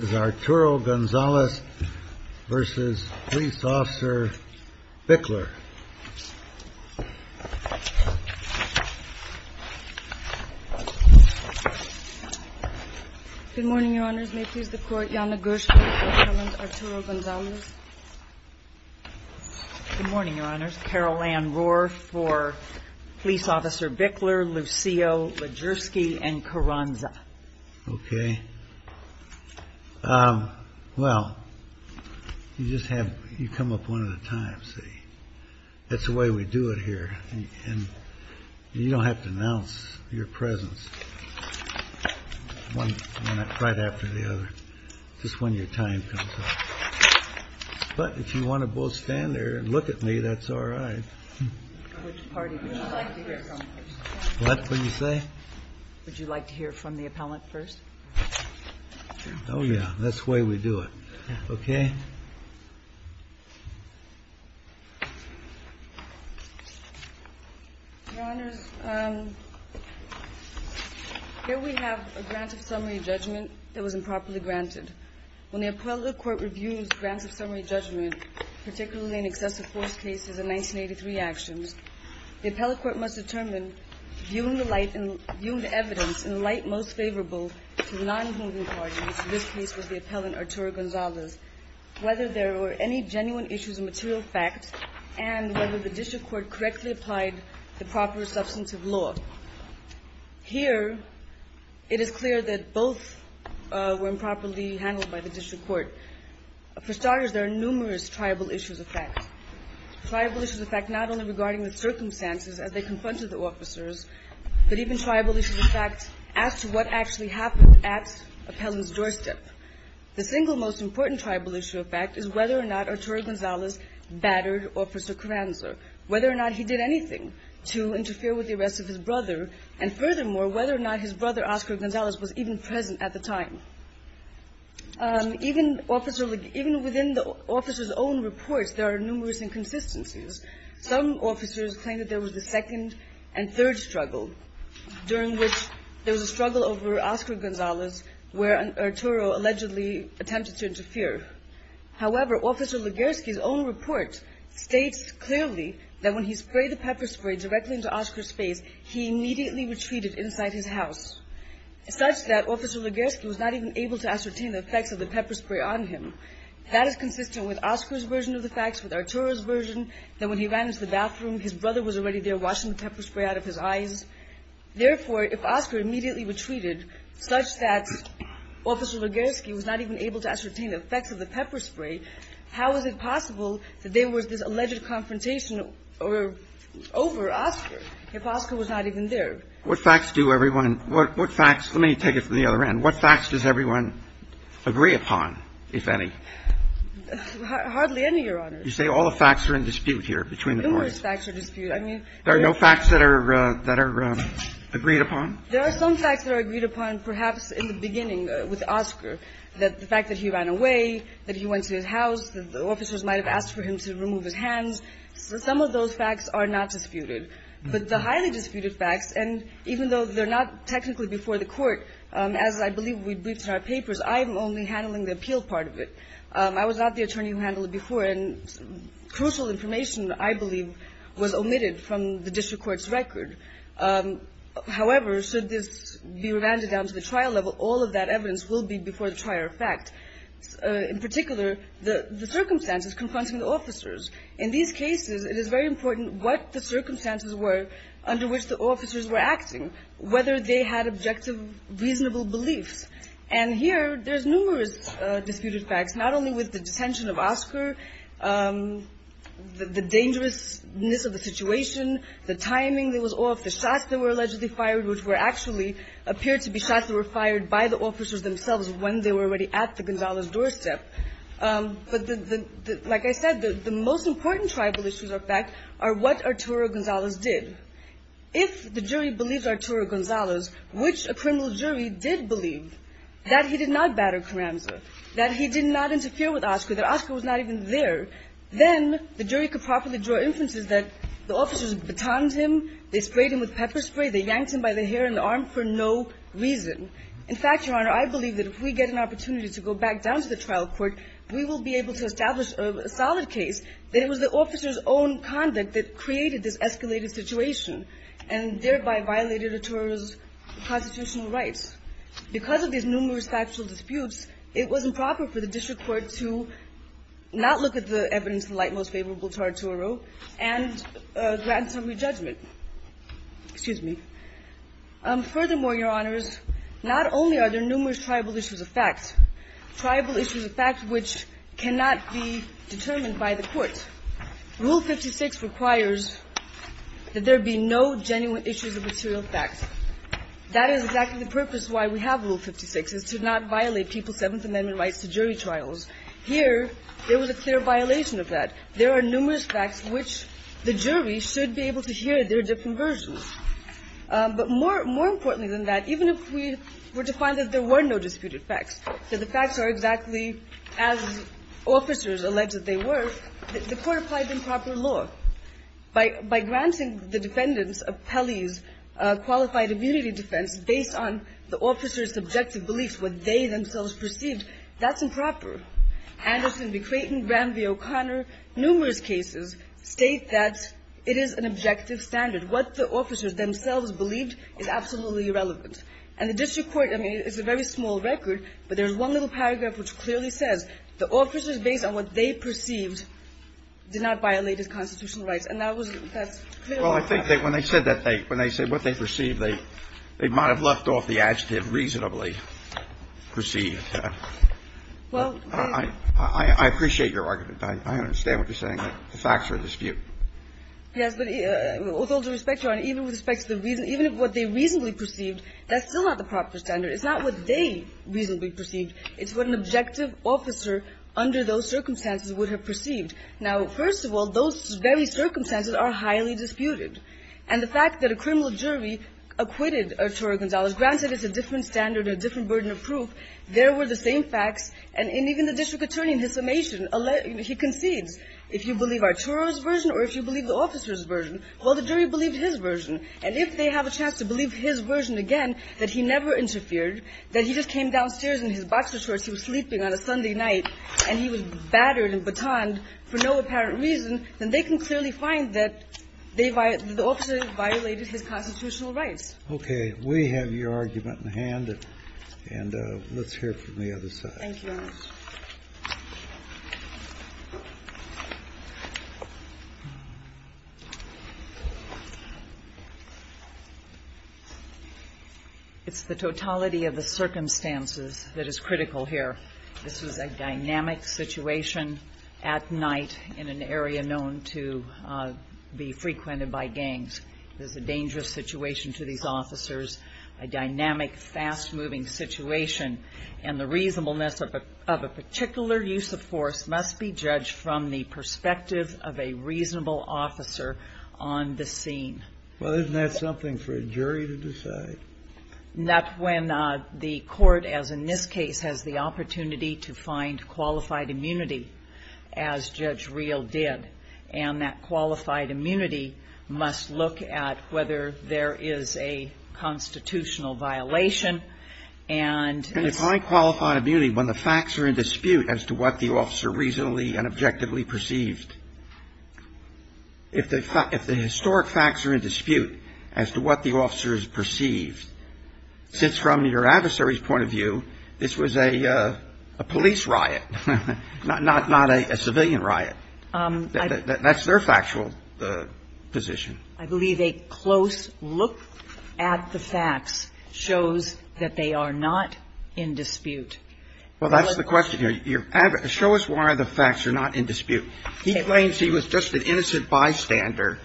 Arturo Gonzales v. Police Officer Bickler. Good morning, Your Honors. May it please the Court, Janna Gershman v. Arturo Gonzales. Good morning, Your Honors. Carol Ann Rohr v. Police Officer Bickler, Lucio Legerski, and Carranza. Okay. Well, you just have, you come up one at a time, see. That's the way we do it here. And you don't have to announce your presence one right after the other. Just when your time comes up. But if you want to both stand there and look at me, that's all right. Which party would you like to hear from first? What did you say? Would you like to hear from the appellant first? Oh, yeah. That's the way we do it. Okay. Your Honors, here we have a grant of summary judgment that was improperly granted. When the appellate court reviews grants of summary judgment, particularly in excessive force cases and 1983 actions, the appellate court must determine, viewing the light, viewing the evidence in the light most favorable to the non-moving parties, in this case was the appellant Arturo Gonzales. Whether there were any genuine issues of material fact and whether the district court correctly applied the proper substantive law. Here, it is clear that both were improperly handled by the district court. For starters, there are numerous triable issues of fact. Triable issues of fact not only regarding the circumstances as they confronted the officers, but even triable issues of fact as to what actually happened at appellant's doorstep. The single most important triable issue of fact is whether or not Arturo Gonzales battered Officer Carranza, whether or not he did anything to interfere with the arrest of his brother, and furthermore, whether or not his brother Oscar Gonzales was even present at the time. Even within the officer's own reports, there are numerous inconsistencies. Some officers claim that there was a second and third struggle, during which there was a struggle over Oscar Gonzales where Arturo allegedly attempted to interfere. However, Officer Legersky's own report states clearly that when he sprayed the pepper spray directly into Oscar's face, he immediately retreated inside his house, such that Officer Legersky was not even able to ascertain the effects of the pepper spray on him. That is consistent with Oscar's version of the facts, with Arturo's version, that when he ran into the bathroom, his brother was already there washing the pepper spray out of his eyes. Therefore, if Oscar immediately retreated, such that Officer Legersky was not even able to ascertain the effects of the pepper spray, how is it possible that there was this alleged confrontation over Oscar, if Oscar was not even there? What facts do everyone – what facts – let me take it from the other end. What facts does everyone agree upon, if any? Hardly any, Your Honor. You say all the facts are in dispute here between the courts. Numerous facts are in dispute. There are no facts that are agreed upon? There are some facts that are agreed upon, perhaps in the beginning with Oscar, that the fact that he ran away, that he went to his house, that the officers might have asked for him to remove his hands, some of those facts are not disputed. But the highly disputed facts, and even though they're not technically before the court, as I believe we briefed in our papers, I'm only handling the appeal part of it. I was not the attorney who handled it before, and crucial information, I believe, was omitted from the district court's record. However, should this be revanded down to the trial level, all of that evidence will be before the trial, in fact. In particular, the circumstances confronting the officers. In these cases, it is very important what the circumstances were under which the officers were acting, whether they had objective, reasonable beliefs. And here, there's numerous disputed facts, not only with the detention of Oscar, the dangerousness of the situation, the timing that was off, the shots that were allegedly fired, which were actually, appeared to be shots that were fired by the officers themselves when they were already at the Gonzales doorstep. But like I said, the most important tribal issues, in fact, are what Arturo Gonzales did. If the jury believes Arturo Gonzales, which a criminal jury did believe, that he did not batter Carranza, that he did not interfere with Oscar, that Oscar was not even there, then the jury could properly draw inferences that the officers batoned him, they sprayed him with pepper spray, they yanked him by the hair and the arm for no reason. In fact, Your Honor, I believe that if we get an opportunity to go back down to the trial court, we will be able to establish a solid case that it was the officers' own conduct that created this escalated situation and thereby violated Arturo's constitutional rights. Because of these numerous factual disputes, it was improper for the district court to not look at the evidence in light most favorable to Arturo and grant some re-judgment. Excuse me. Furthermore, Your Honors, not only are there numerous tribal issues of fact, tribal issues of fact which cannot be determined by the court, Rule 56 requires that there be no genuine issues of material fact. That is exactly the purpose why we have Rule 56, is to not violate people's Seventh Amendment rights to jury trials. Here, there was a clear violation of that. There are numerous facts which the jury should be able to hear. There are different versions. But more importantly than that, even if we were to find that there were no disputed facts, that the facts are exactly as officers alleged that they were, the court applied the improper law. By granting the defendants of Pelley's qualified immunity defense based on the officers' subjective beliefs, what they themselves perceived, that's improper. Anderson v. Creighton, Rand v. O'Connor, numerous cases state that it is an objective standard. What the officers themselves believed is absolutely irrelevant. And the district court, I mean, it's a very small record, but there's one little paragraph which clearly says the officers, based on what they perceived, did not violate his constitutional rights. And that was, that's clear. Well, I think that when they said that, when they said what they perceived, they might have left off the adjective reasonably perceived. Well, I appreciate your argument. I understand what you're saying. The facts are a dispute. Yes, but with all due respect, Your Honor, even with respect to the reason, even if what they reasonably perceived, that's still not the proper standard. It's not what they reasonably perceived. It's what an objective officer under those circumstances would have perceived. Now, first of all, those very circumstances are highly disputed. And the fact that a criminal jury acquitted Arturo Gonzalez, granted it's a different standard, a different burden of proof, there were the same facts, and even the district attorney in his summation, he concedes. If you believe Arturo's version or if you believe the officer's version, well, the jury believed his version. And if they have a chance to believe his version again, that he never interfered, that he just came downstairs in his boxer shorts, he was sleeping on a Sunday night, and he was battered and batoned for no apparent reason, then they can clearly find that they violated, the officer violated his constitutional rights. Okay. We have your argument in hand, and let's hear from the other side. Thank you, Your Honor. It's the totality of the circumstances that is critical here. This was a dynamic situation at night in an area known to be frequented by gangs. It was a dangerous situation to these officers, a dynamic, fast-moving situation. And the reasonableness of a particular use of force must be judged from the perspective of a reasonable officer on the scene. Well, isn't that something for a jury to decide? Not when the court, as in this case, has the opportunity to find qualified immunity, as Judge Reel did. And that qualified immunity must look at whether there is a constitutional violation, and it's And if I qualify immunity when the facts are in dispute as to what the officer reasonably and objectively perceived, if the historic facts are in dispute as to what the officer has perceived, since from your adversary's point of view, this was a police riot, not a civilian riot, that's their factual position. I believe a close look at the facts shows that they are not in dispute. Well, that's the question here. Show us why the facts are not in dispute. He claims he was just an innocent bystander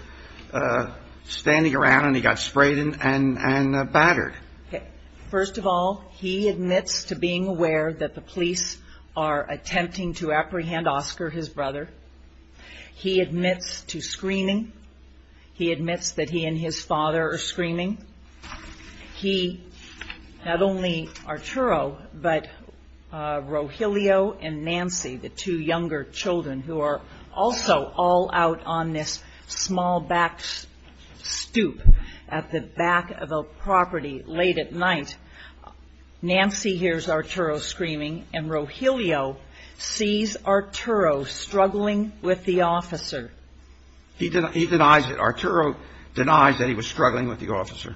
standing around, and he got sprayed and battered. First of all, he admits to being aware that the police are attempting to apprehend Oscar, his brother. He admits to screaming. He admits that he and his father are screaming. He, not only Arturo, but Rogelio and Nancy, the two younger children who are also all out on this small back stoop at the back of a property late at night, Nancy hears Arturo screaming, and Rogelio sees Arturo struggling with the officer. He denies it. Arturo denies that he was struggling with the officer.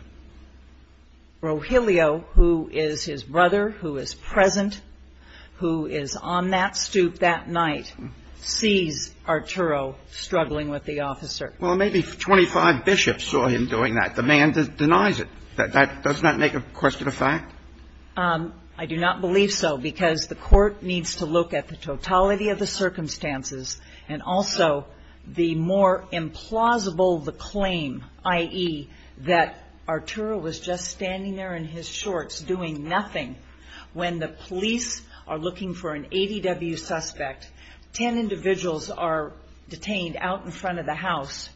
Rogelio, who is his brother, who is present, who is on that stoop that night, sees Arturo struggling with the officer. Well, maybe 25 bishops saw him doing that. The man denies it. That does not make a question of fact? I do not believe so, because the Court needs to look at the totality of the circumstances and also the more implausible the claim, i.e., that Arturo was just standing there in his shorts doing nothing when the police are looking for an ADW suspect. Ten individuals are detained out in front of the house.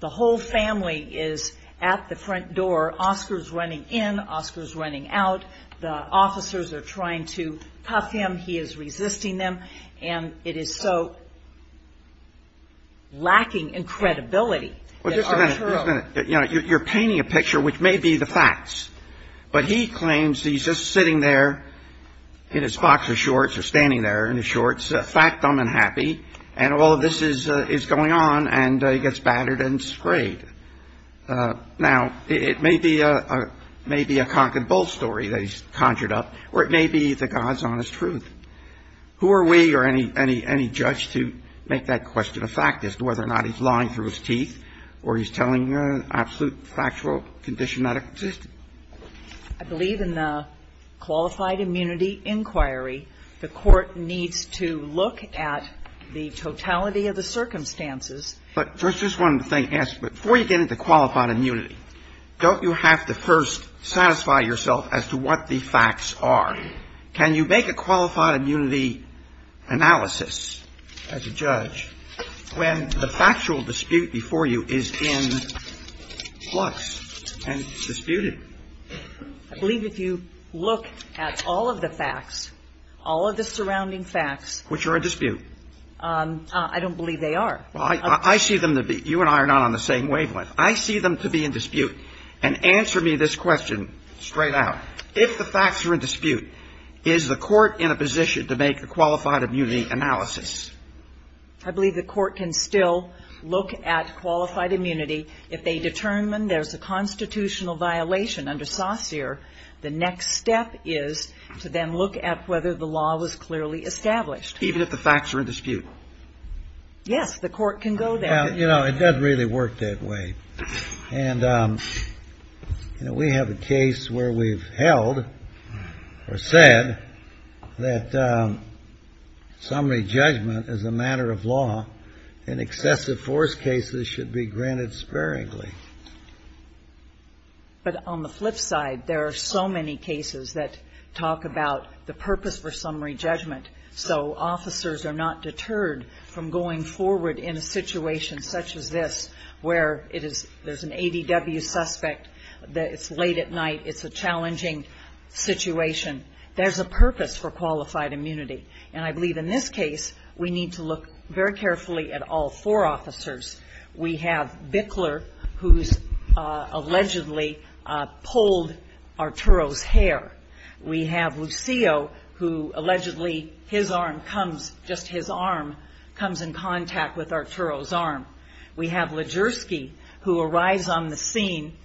The whole family is at the front door. Oscar's running in. Oscar's running out. The officers are trying to cuff him. He is resisting them. And it is so lacking in credibility that Arturo — Well, just a minute. Just a minute. You know, you're painting a picture, which may be the facts, but he claims he's just sitting there in his boxer shorts or standing there in his shorts, fact-dumb and happy, and all of this is going on, and he gets battered and scraped. Now, it may be a cock-and-bull story that he's conjured up, or it may be the God's honest truth. Who are we or any judge to make that question a fact as to whether or not he's lying through his teeth or he's telling an absolute factual condition that existed? I believe in the qualified immunity inquiry, the Court needs to look at the totality of the circumstances. But first, just one thing. Before you get into qualified immunity, don't you have to first satisfy yourself as to what the facts are? Can you make a qualified immunity analysis as a judge when the factual dispute before you is in flux and disputed? I believe if you look at all of the facts, all of the surrounding facts — Which are in dispute. I don't believe they are. Well, I see them to be — you and I are not on the same wavelength. I see them to be in dispute. And answer me this question straight out. If the facts are in dispute, is the Court in a position to make a qualified immunity analysis? I believe the Court can still look at qualified immunity. If they determine there's a constitutional violation under Saussure, the next step is to then look at whether the law was clearly established. Even if the facts are in dispute? Yes, the Court can go there. You know, it doesn't really work that way. And, you know, we have a case where we've held or said that summary judgment as a matter of law in excessive force cases should be granted sparingly. But on the flip side, there are so many cases that talk about the purpose for summary judgment so officers are not deterred from going forward in a situation such as this where it is — there's an ADW suspect, that it's late at night, it's a challenging situation. There's a purpose for qualified immunity. And I believe in this case, we need to look very carefully at all four officers. We have Bickler, who's allegedly pulled Arturo's hair. We have Lucio, who allegedly his arm comes — just his arm comes in contact with Arturo's arm. We have Legersky, who arrives on the scene,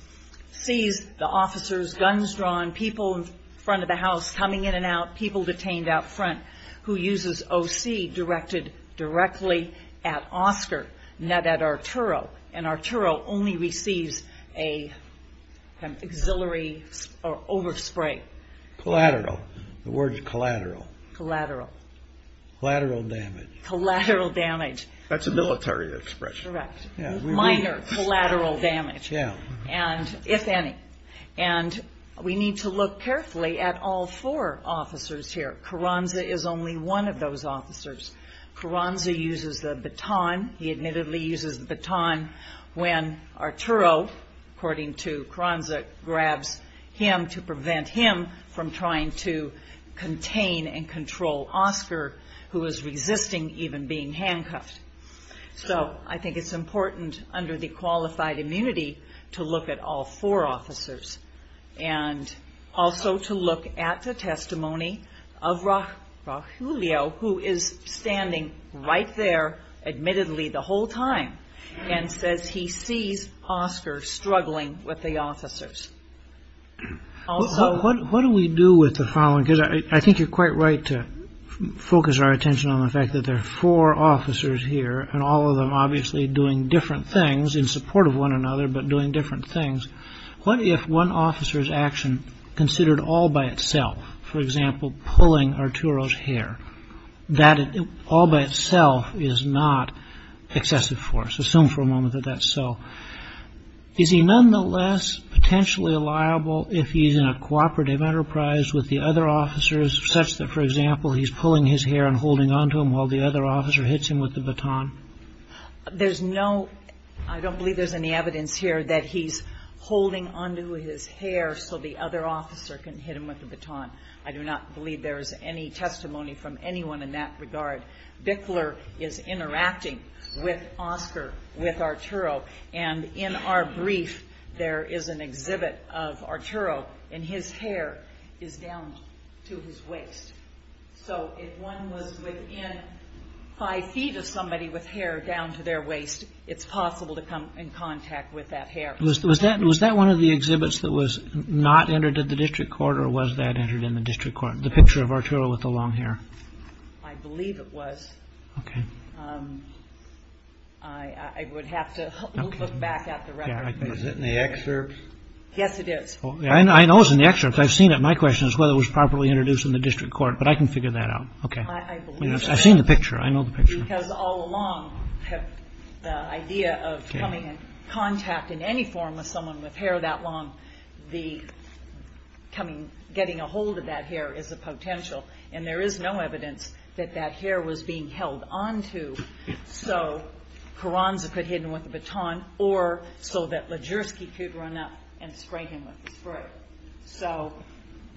sees the officers, guns drawn, people in front of the house coming in and out, people detained out front, who uses OC directed directly at Oscar, not at Arturo. And Arturo only receives an auxiliary over spray. Collateral. The word's collateral. Collateral. Collateral damage. Collateral damage. That's a military expression. Correct. Minor collateral damage. And if any. And we need to look carefully at all four officers here. Carranza is only one of those officers. Carranza uses the baton. He admittedly uses the baton when Arturo, according to Carranza, grabs him to prevent him from trying to contain and control Oscar, who is resisting even being handcuffed. So I think it's important under the qualified immunity to look at all four officers. And also to look at the testimony of Rogelio, who is standing right there, admittedly, the whole time, and says he sees Oscar struggling with the officers. Also. What do we do with the following? Because I think you're quite right to focus our attention on the fact that there are four officers here, and all of them obviously doing different things in support of one another, but doing different things. What if one officer's action considered all by itself? For example, pulling Arturo's hair. That all by itself is not excessive force. Assume for a moment that that's so. Is he nonetheless potentially liable if he's in a cooperative enterprise with the other officers, such that, for example, he's pulling his hair and holding onto him while the other officer hits him with the baton? There's no, I don't believe there's any evidence here, that he's holding onto his hair so the other officer can hit him with the baton. I do not believe there is any testimony from anyone in that regard. Bickler is interacting with Oscar, with Arturo. And in our brief, there is an exhibit of Arturo, and his hair is down to his waist. So if one was within five feet of somebody with hair down to their waist, it's possible to come in contact with that hair. Was that one of the exhibits that was not entered at the district court, or was that entered in the district court, the picture of Arturo with the long hair? I believe it was. OK. I would have to look back at the record. Is it in the excerpts? Yes, it is. I know it's in the excerpts. I've seen it. My question is whether it was properly introduced in the district court. But I can figure that out. OK. I believe that. I've seen the picture. I know the picture. Because all along, the idea of coming in contact in any form with someone with hair that long, getting a hold of that hair is a potential. And there is no evidence that that hair was being held onto so Carranza could hit him with a baton, or so that Lajerski could run up and spray him with the spray. So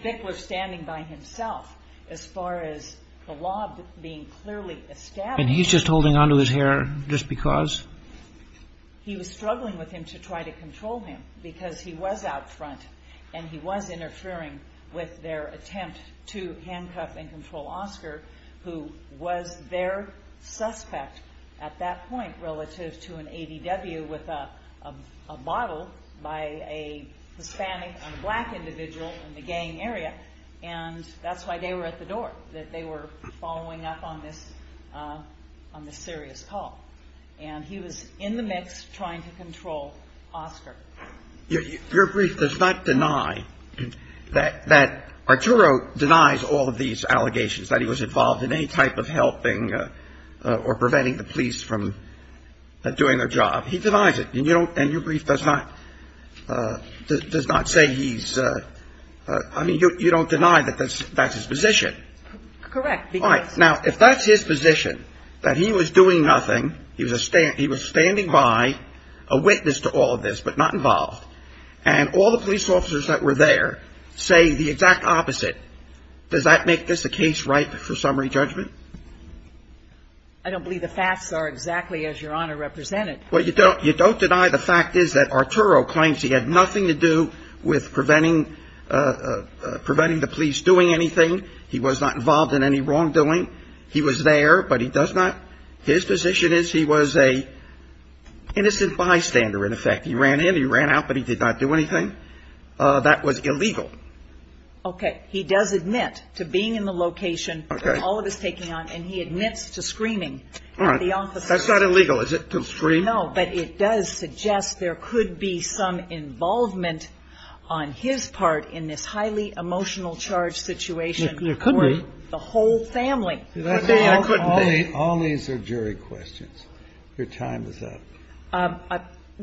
Bickler standing by himself, as far as the lob being clearly established. And he's just holding onto his hair just because? He was struggling with him to try to control him, because he was out front. And he was interfering with their attempt to handcuff and control Oscar, who was their suspect at that point relative to an ADW with a bottle by a Hispanic and black individual in the gang area. And that's why they were at the door, that they were following up on this serious call. And he was in the mix trying to control Oscar. Your brief does not deny that Arturo denies all of these allegations, that he was involved in any type of helping or preventing the police from doing their job. He denies it. And your brief does not say he's, I mean, you don't deny that that's his position. Correct. Now, if that's his position, that he was doing nothing, he was standing by, a witness to all of this, but not involved. And all the police officers that were there say the exact opposite. Does that make this a case ripe for summary judgment? I don't believe the facts are exactly as Your Honor represented. Well, you don't deny the fact is that Arturo claims he had nothing to do with preventing the police doing anything. He was not involved in any wrongdoing. He was there, but he does not. His position is he was a innocent bystander, in effect. He ran in, he ran out, but he did not do anything. That was illegal. Okay, he does admit to being in the location where all of this is taking on, and he admits to screaming at the office. That's not illegal, is it, to scream? No, but it does suggest there could be some involvement on his part in this highly emotional charge situation. There could be. For the whole family. But they couldn't be. All these are jury questions. Your time is up.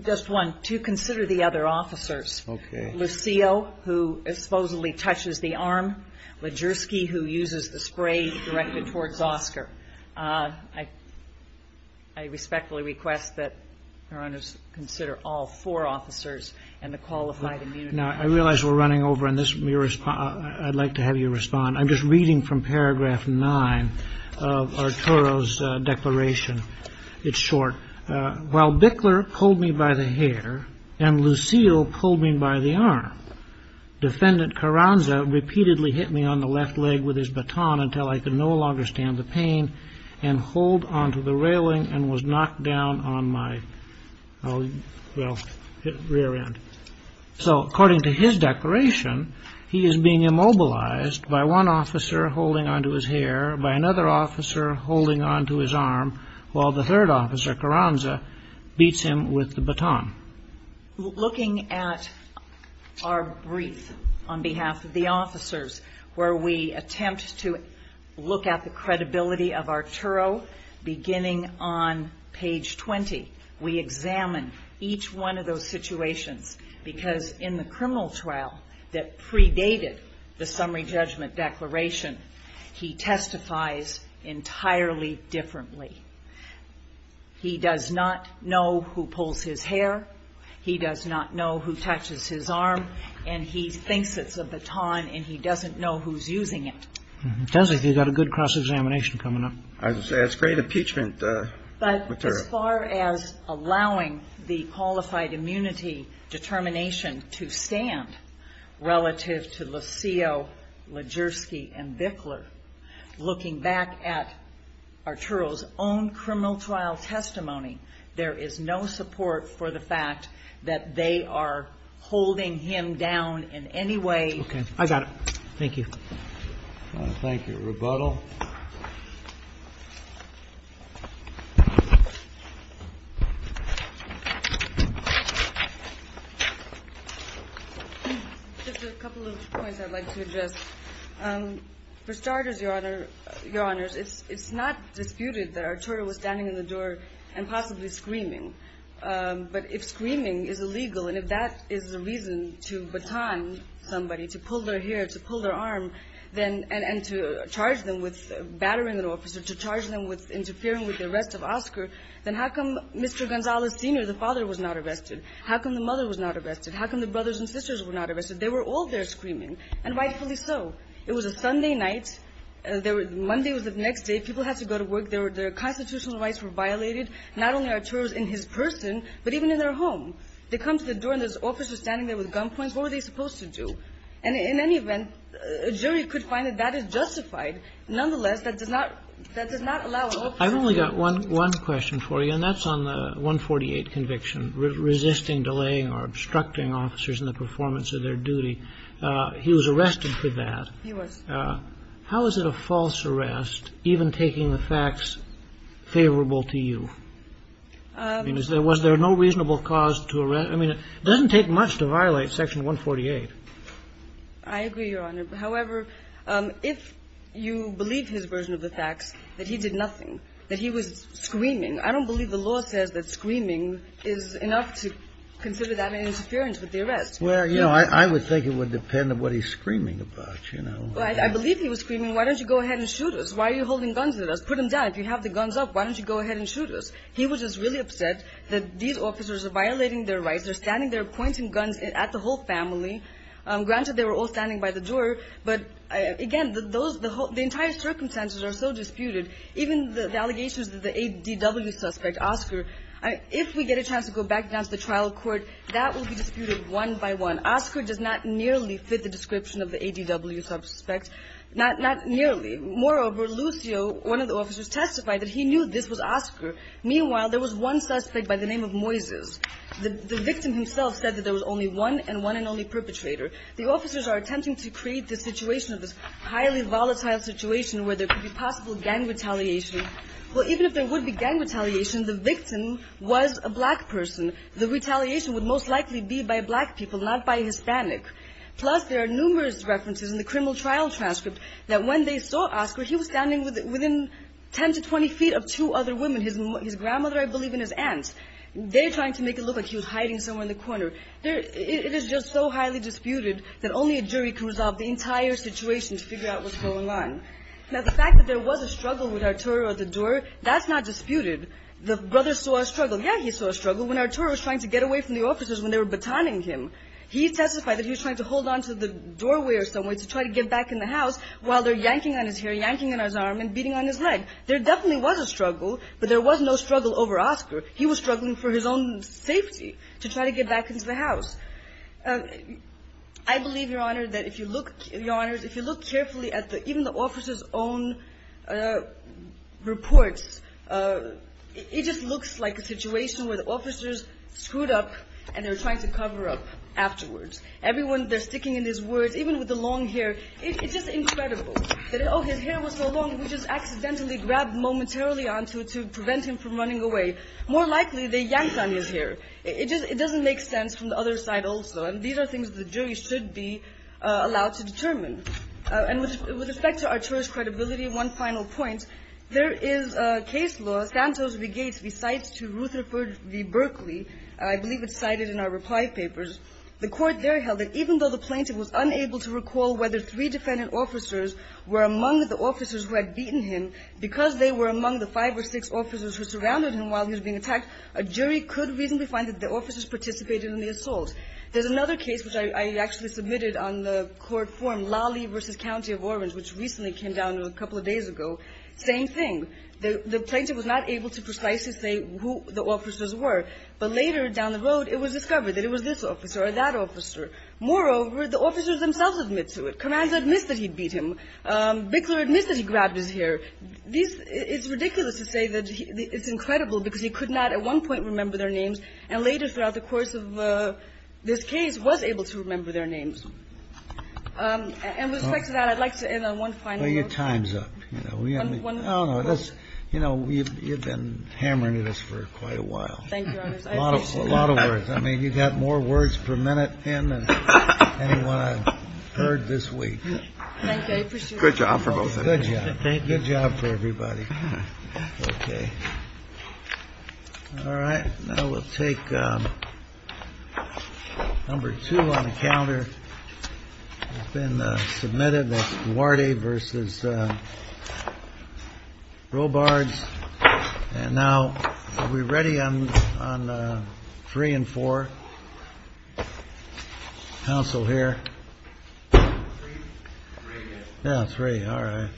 Just one. Two, consider the other officers. Okay. Lucio, who supposedly touches the arm. Legersky, who uses the spray directed towards Oscar. I respectfully request that Your Honors consider all four officers and the qualified immunity. Now, I realize we're running over, and I'd like to have you respond. I'm just reading from paragraph nine of Arturo's declaration. It's short. While Bickler pulled me by the hair, and Lucio pulled me by the arm, Defendant Carranza repeatedly hit me on the left leg with his baton until I could no longer stand the pain, and hold onto the railing, and was knocked down on my, well, rear end. So, according to his declaration, he is being immobilized by one officer holding onto his hair, by another officer holding onto his arm, while the third officer, Carranza, beats him with the baton. Looking at our brief on behalf of the officers, where we attempt to look at the credibility of Arturo, beginning on page 20. We examine each one of those situations, because in the criminal trial that predated the summary judgment declaration, he testifies entirely differently. He does not know who pulls his hair. He does not know who touches his arm. And he thinks it's a baton, and he doesn't know who's using it. It does look like you've got a good cross-examination coming up. As great impeachment material. But as far as allowing the qualified immunity determination to stand, relative to Lucio, Lajerski, and Bickler, looking back at Arturo's own criminal trial testimony, there is no support for the fact that they are holding him down in any way. Okay. I got it. Thank you. Thank you. Rebuttal. Just a couple of points I'd like to address. For starters, Your Honors, it's not disputed that Arturo was standing in the door and possibly screaming, but if screaming is illegal, and if that is the reason to baton somebody, to pull their hair, to pull their arm, and to charge them with battering an officer, to charge them with interfering with the arrest of Oscar, then how come Mr. Gonzales, Sr., the father, was not arrested? How come the mother was not arrested? How come the brothers and sisters were not arrested? They were all there screaming, and rightfully so. It was a Sunday night. Monday was the next day. People had to go to work. Their constitutional rights were violated. Not only Arturo's in his person, but even in their home. They come to the door, and there's officers standing there with gunpoints. What were they supposed to do? And in any event, a jury could find that that is justified. Nonetheless, that does not allow an officer to do that. I've only got one question for you, and that's on the 148 conviction, resisting, delaying, or obstructing officers in the performance of their duty. He was arrested for that. He was. How is it a false arrest, even taking the facts favorable to you? Was there no reasonable cause to arrest? I mean, it doesn't take much to violate Section 148. I agree, Your Honor. However, if you believe his version of the facts, that he did nothing, that he was screaming, I don't believe the law says that screaming is enough to consider that an interference with the arrest. Well, you know, I would think it would depend on what he's screaming about, you know? I believe he was screaming, why don't you go ahead and shoot us? Why are you holding guns at us? Put them down. If you have the guns up, why don't you go ahead and shoot us? He was just really upset that these officers are violating their rights. They're standing there pointing guns at the whole family. Granted, they were all standing by the door, but, again, those the whole the entire circumstances are so disputed. Even the allegations that the ADW suspect, Oscar, if we get a chance to go back down to the trial court, that will be disputed one by one. Oscar does not nearly fit the description of the ADW suspect. Not nearly. Moreover, Lucio, one of the officers, testified that he knew this was Oscar. Meanwhile, there was one suspect by the name of Moises. The victim himself said that there was only one and one and only perpetrator. The officers are attempting to create the situation of this highly volatile situation where there could be possible gang retaliation. Well, even if there would be gang retaliation, the victim was a black person. The retaliation would most likely be by black people, not by Hispanic. Plus, there are numerous references in the criminal trial transcript that when they saw Oscar, he was standing within 10 to 20 feet of two other women, his grandmother, I believe, and his aunt. They're trying to make it look like he was hiding somewhere in the corner. It is just so highly disputed that only a jury can resolve the entire situation to figure out what's going on. Now, the fact that there was a struggle with Arturo at the door, that's not disputed. The brother saw a struggle. Yeah, he saw a struggle when Arturo was trying to get away from the officers when they were batoning him. He testified that he was trying to hold on to the doorway or somewhere to try to get back in the house while they're yanking on his hair, yanking on his arm, and beating on his leg. There definitely was a struggle, but there was no struggle over Oscar. He was struggling for his own safety to try to get back into the house. I believe, Your Honor, that if you look carefully at even the officer's own reports, it just looks like a situation where the officers screwed up and they're trying to cover up afterwards. Everyone, they're sticking in his words, even with the long hair. It's just incredible that, oh, his hair was so long, we just accidentally grabbed momentarily onto it to prevent him from running away. More likely, they yanked on his hair. It doesn't make sense from the other side also. And these are things the jury should be allowed to determine. And with respect to Arturo's credibility, one final point. There is a case law, Santos v. Gates v. Cites to Rutherford v. Berkeley, I believe it's cited in our reply papers. The court there held that even though the plaintiff was unable to recall whether three defendant officers were among the officers who had beaten him, because they were among the five or six officers who surrounded him while he was being attacked, a jury could reasonably find that the officers participated in the assault. There's another case which I actually submitted on the court form, Lawley v. County of Orange, which recently came down a couple of days ago, same thing. The plaintiff was not able to precisely say who the officers were. But later down the road, it was discovered that it was this officer or that officer. Moreover, the officers themselves admit to it. Carranza admits that he beat him. Bickler admits that he grabbed his hair. It's ridiculous to say that it's incredible because he could not at one point remember their names, and later throughout the course of this case, was able to remember their names. And with respect to that, I'd like to end on one final note. The time's up. One more. You've been hammering at us for quite a while. Thank you, Your Honors. A lot of words. I mean, you've got more words per minute in than anyone I've heard this week. Thank you. I appreciate it. Good job for both of you. Good job. Good job for everybody. OK. All right. Now we'll take number two on the calendar that's been submitted. That's Duarte versus Robards. And now, are we ready on three and four? Counsel here. Three. Yeah, three. All right.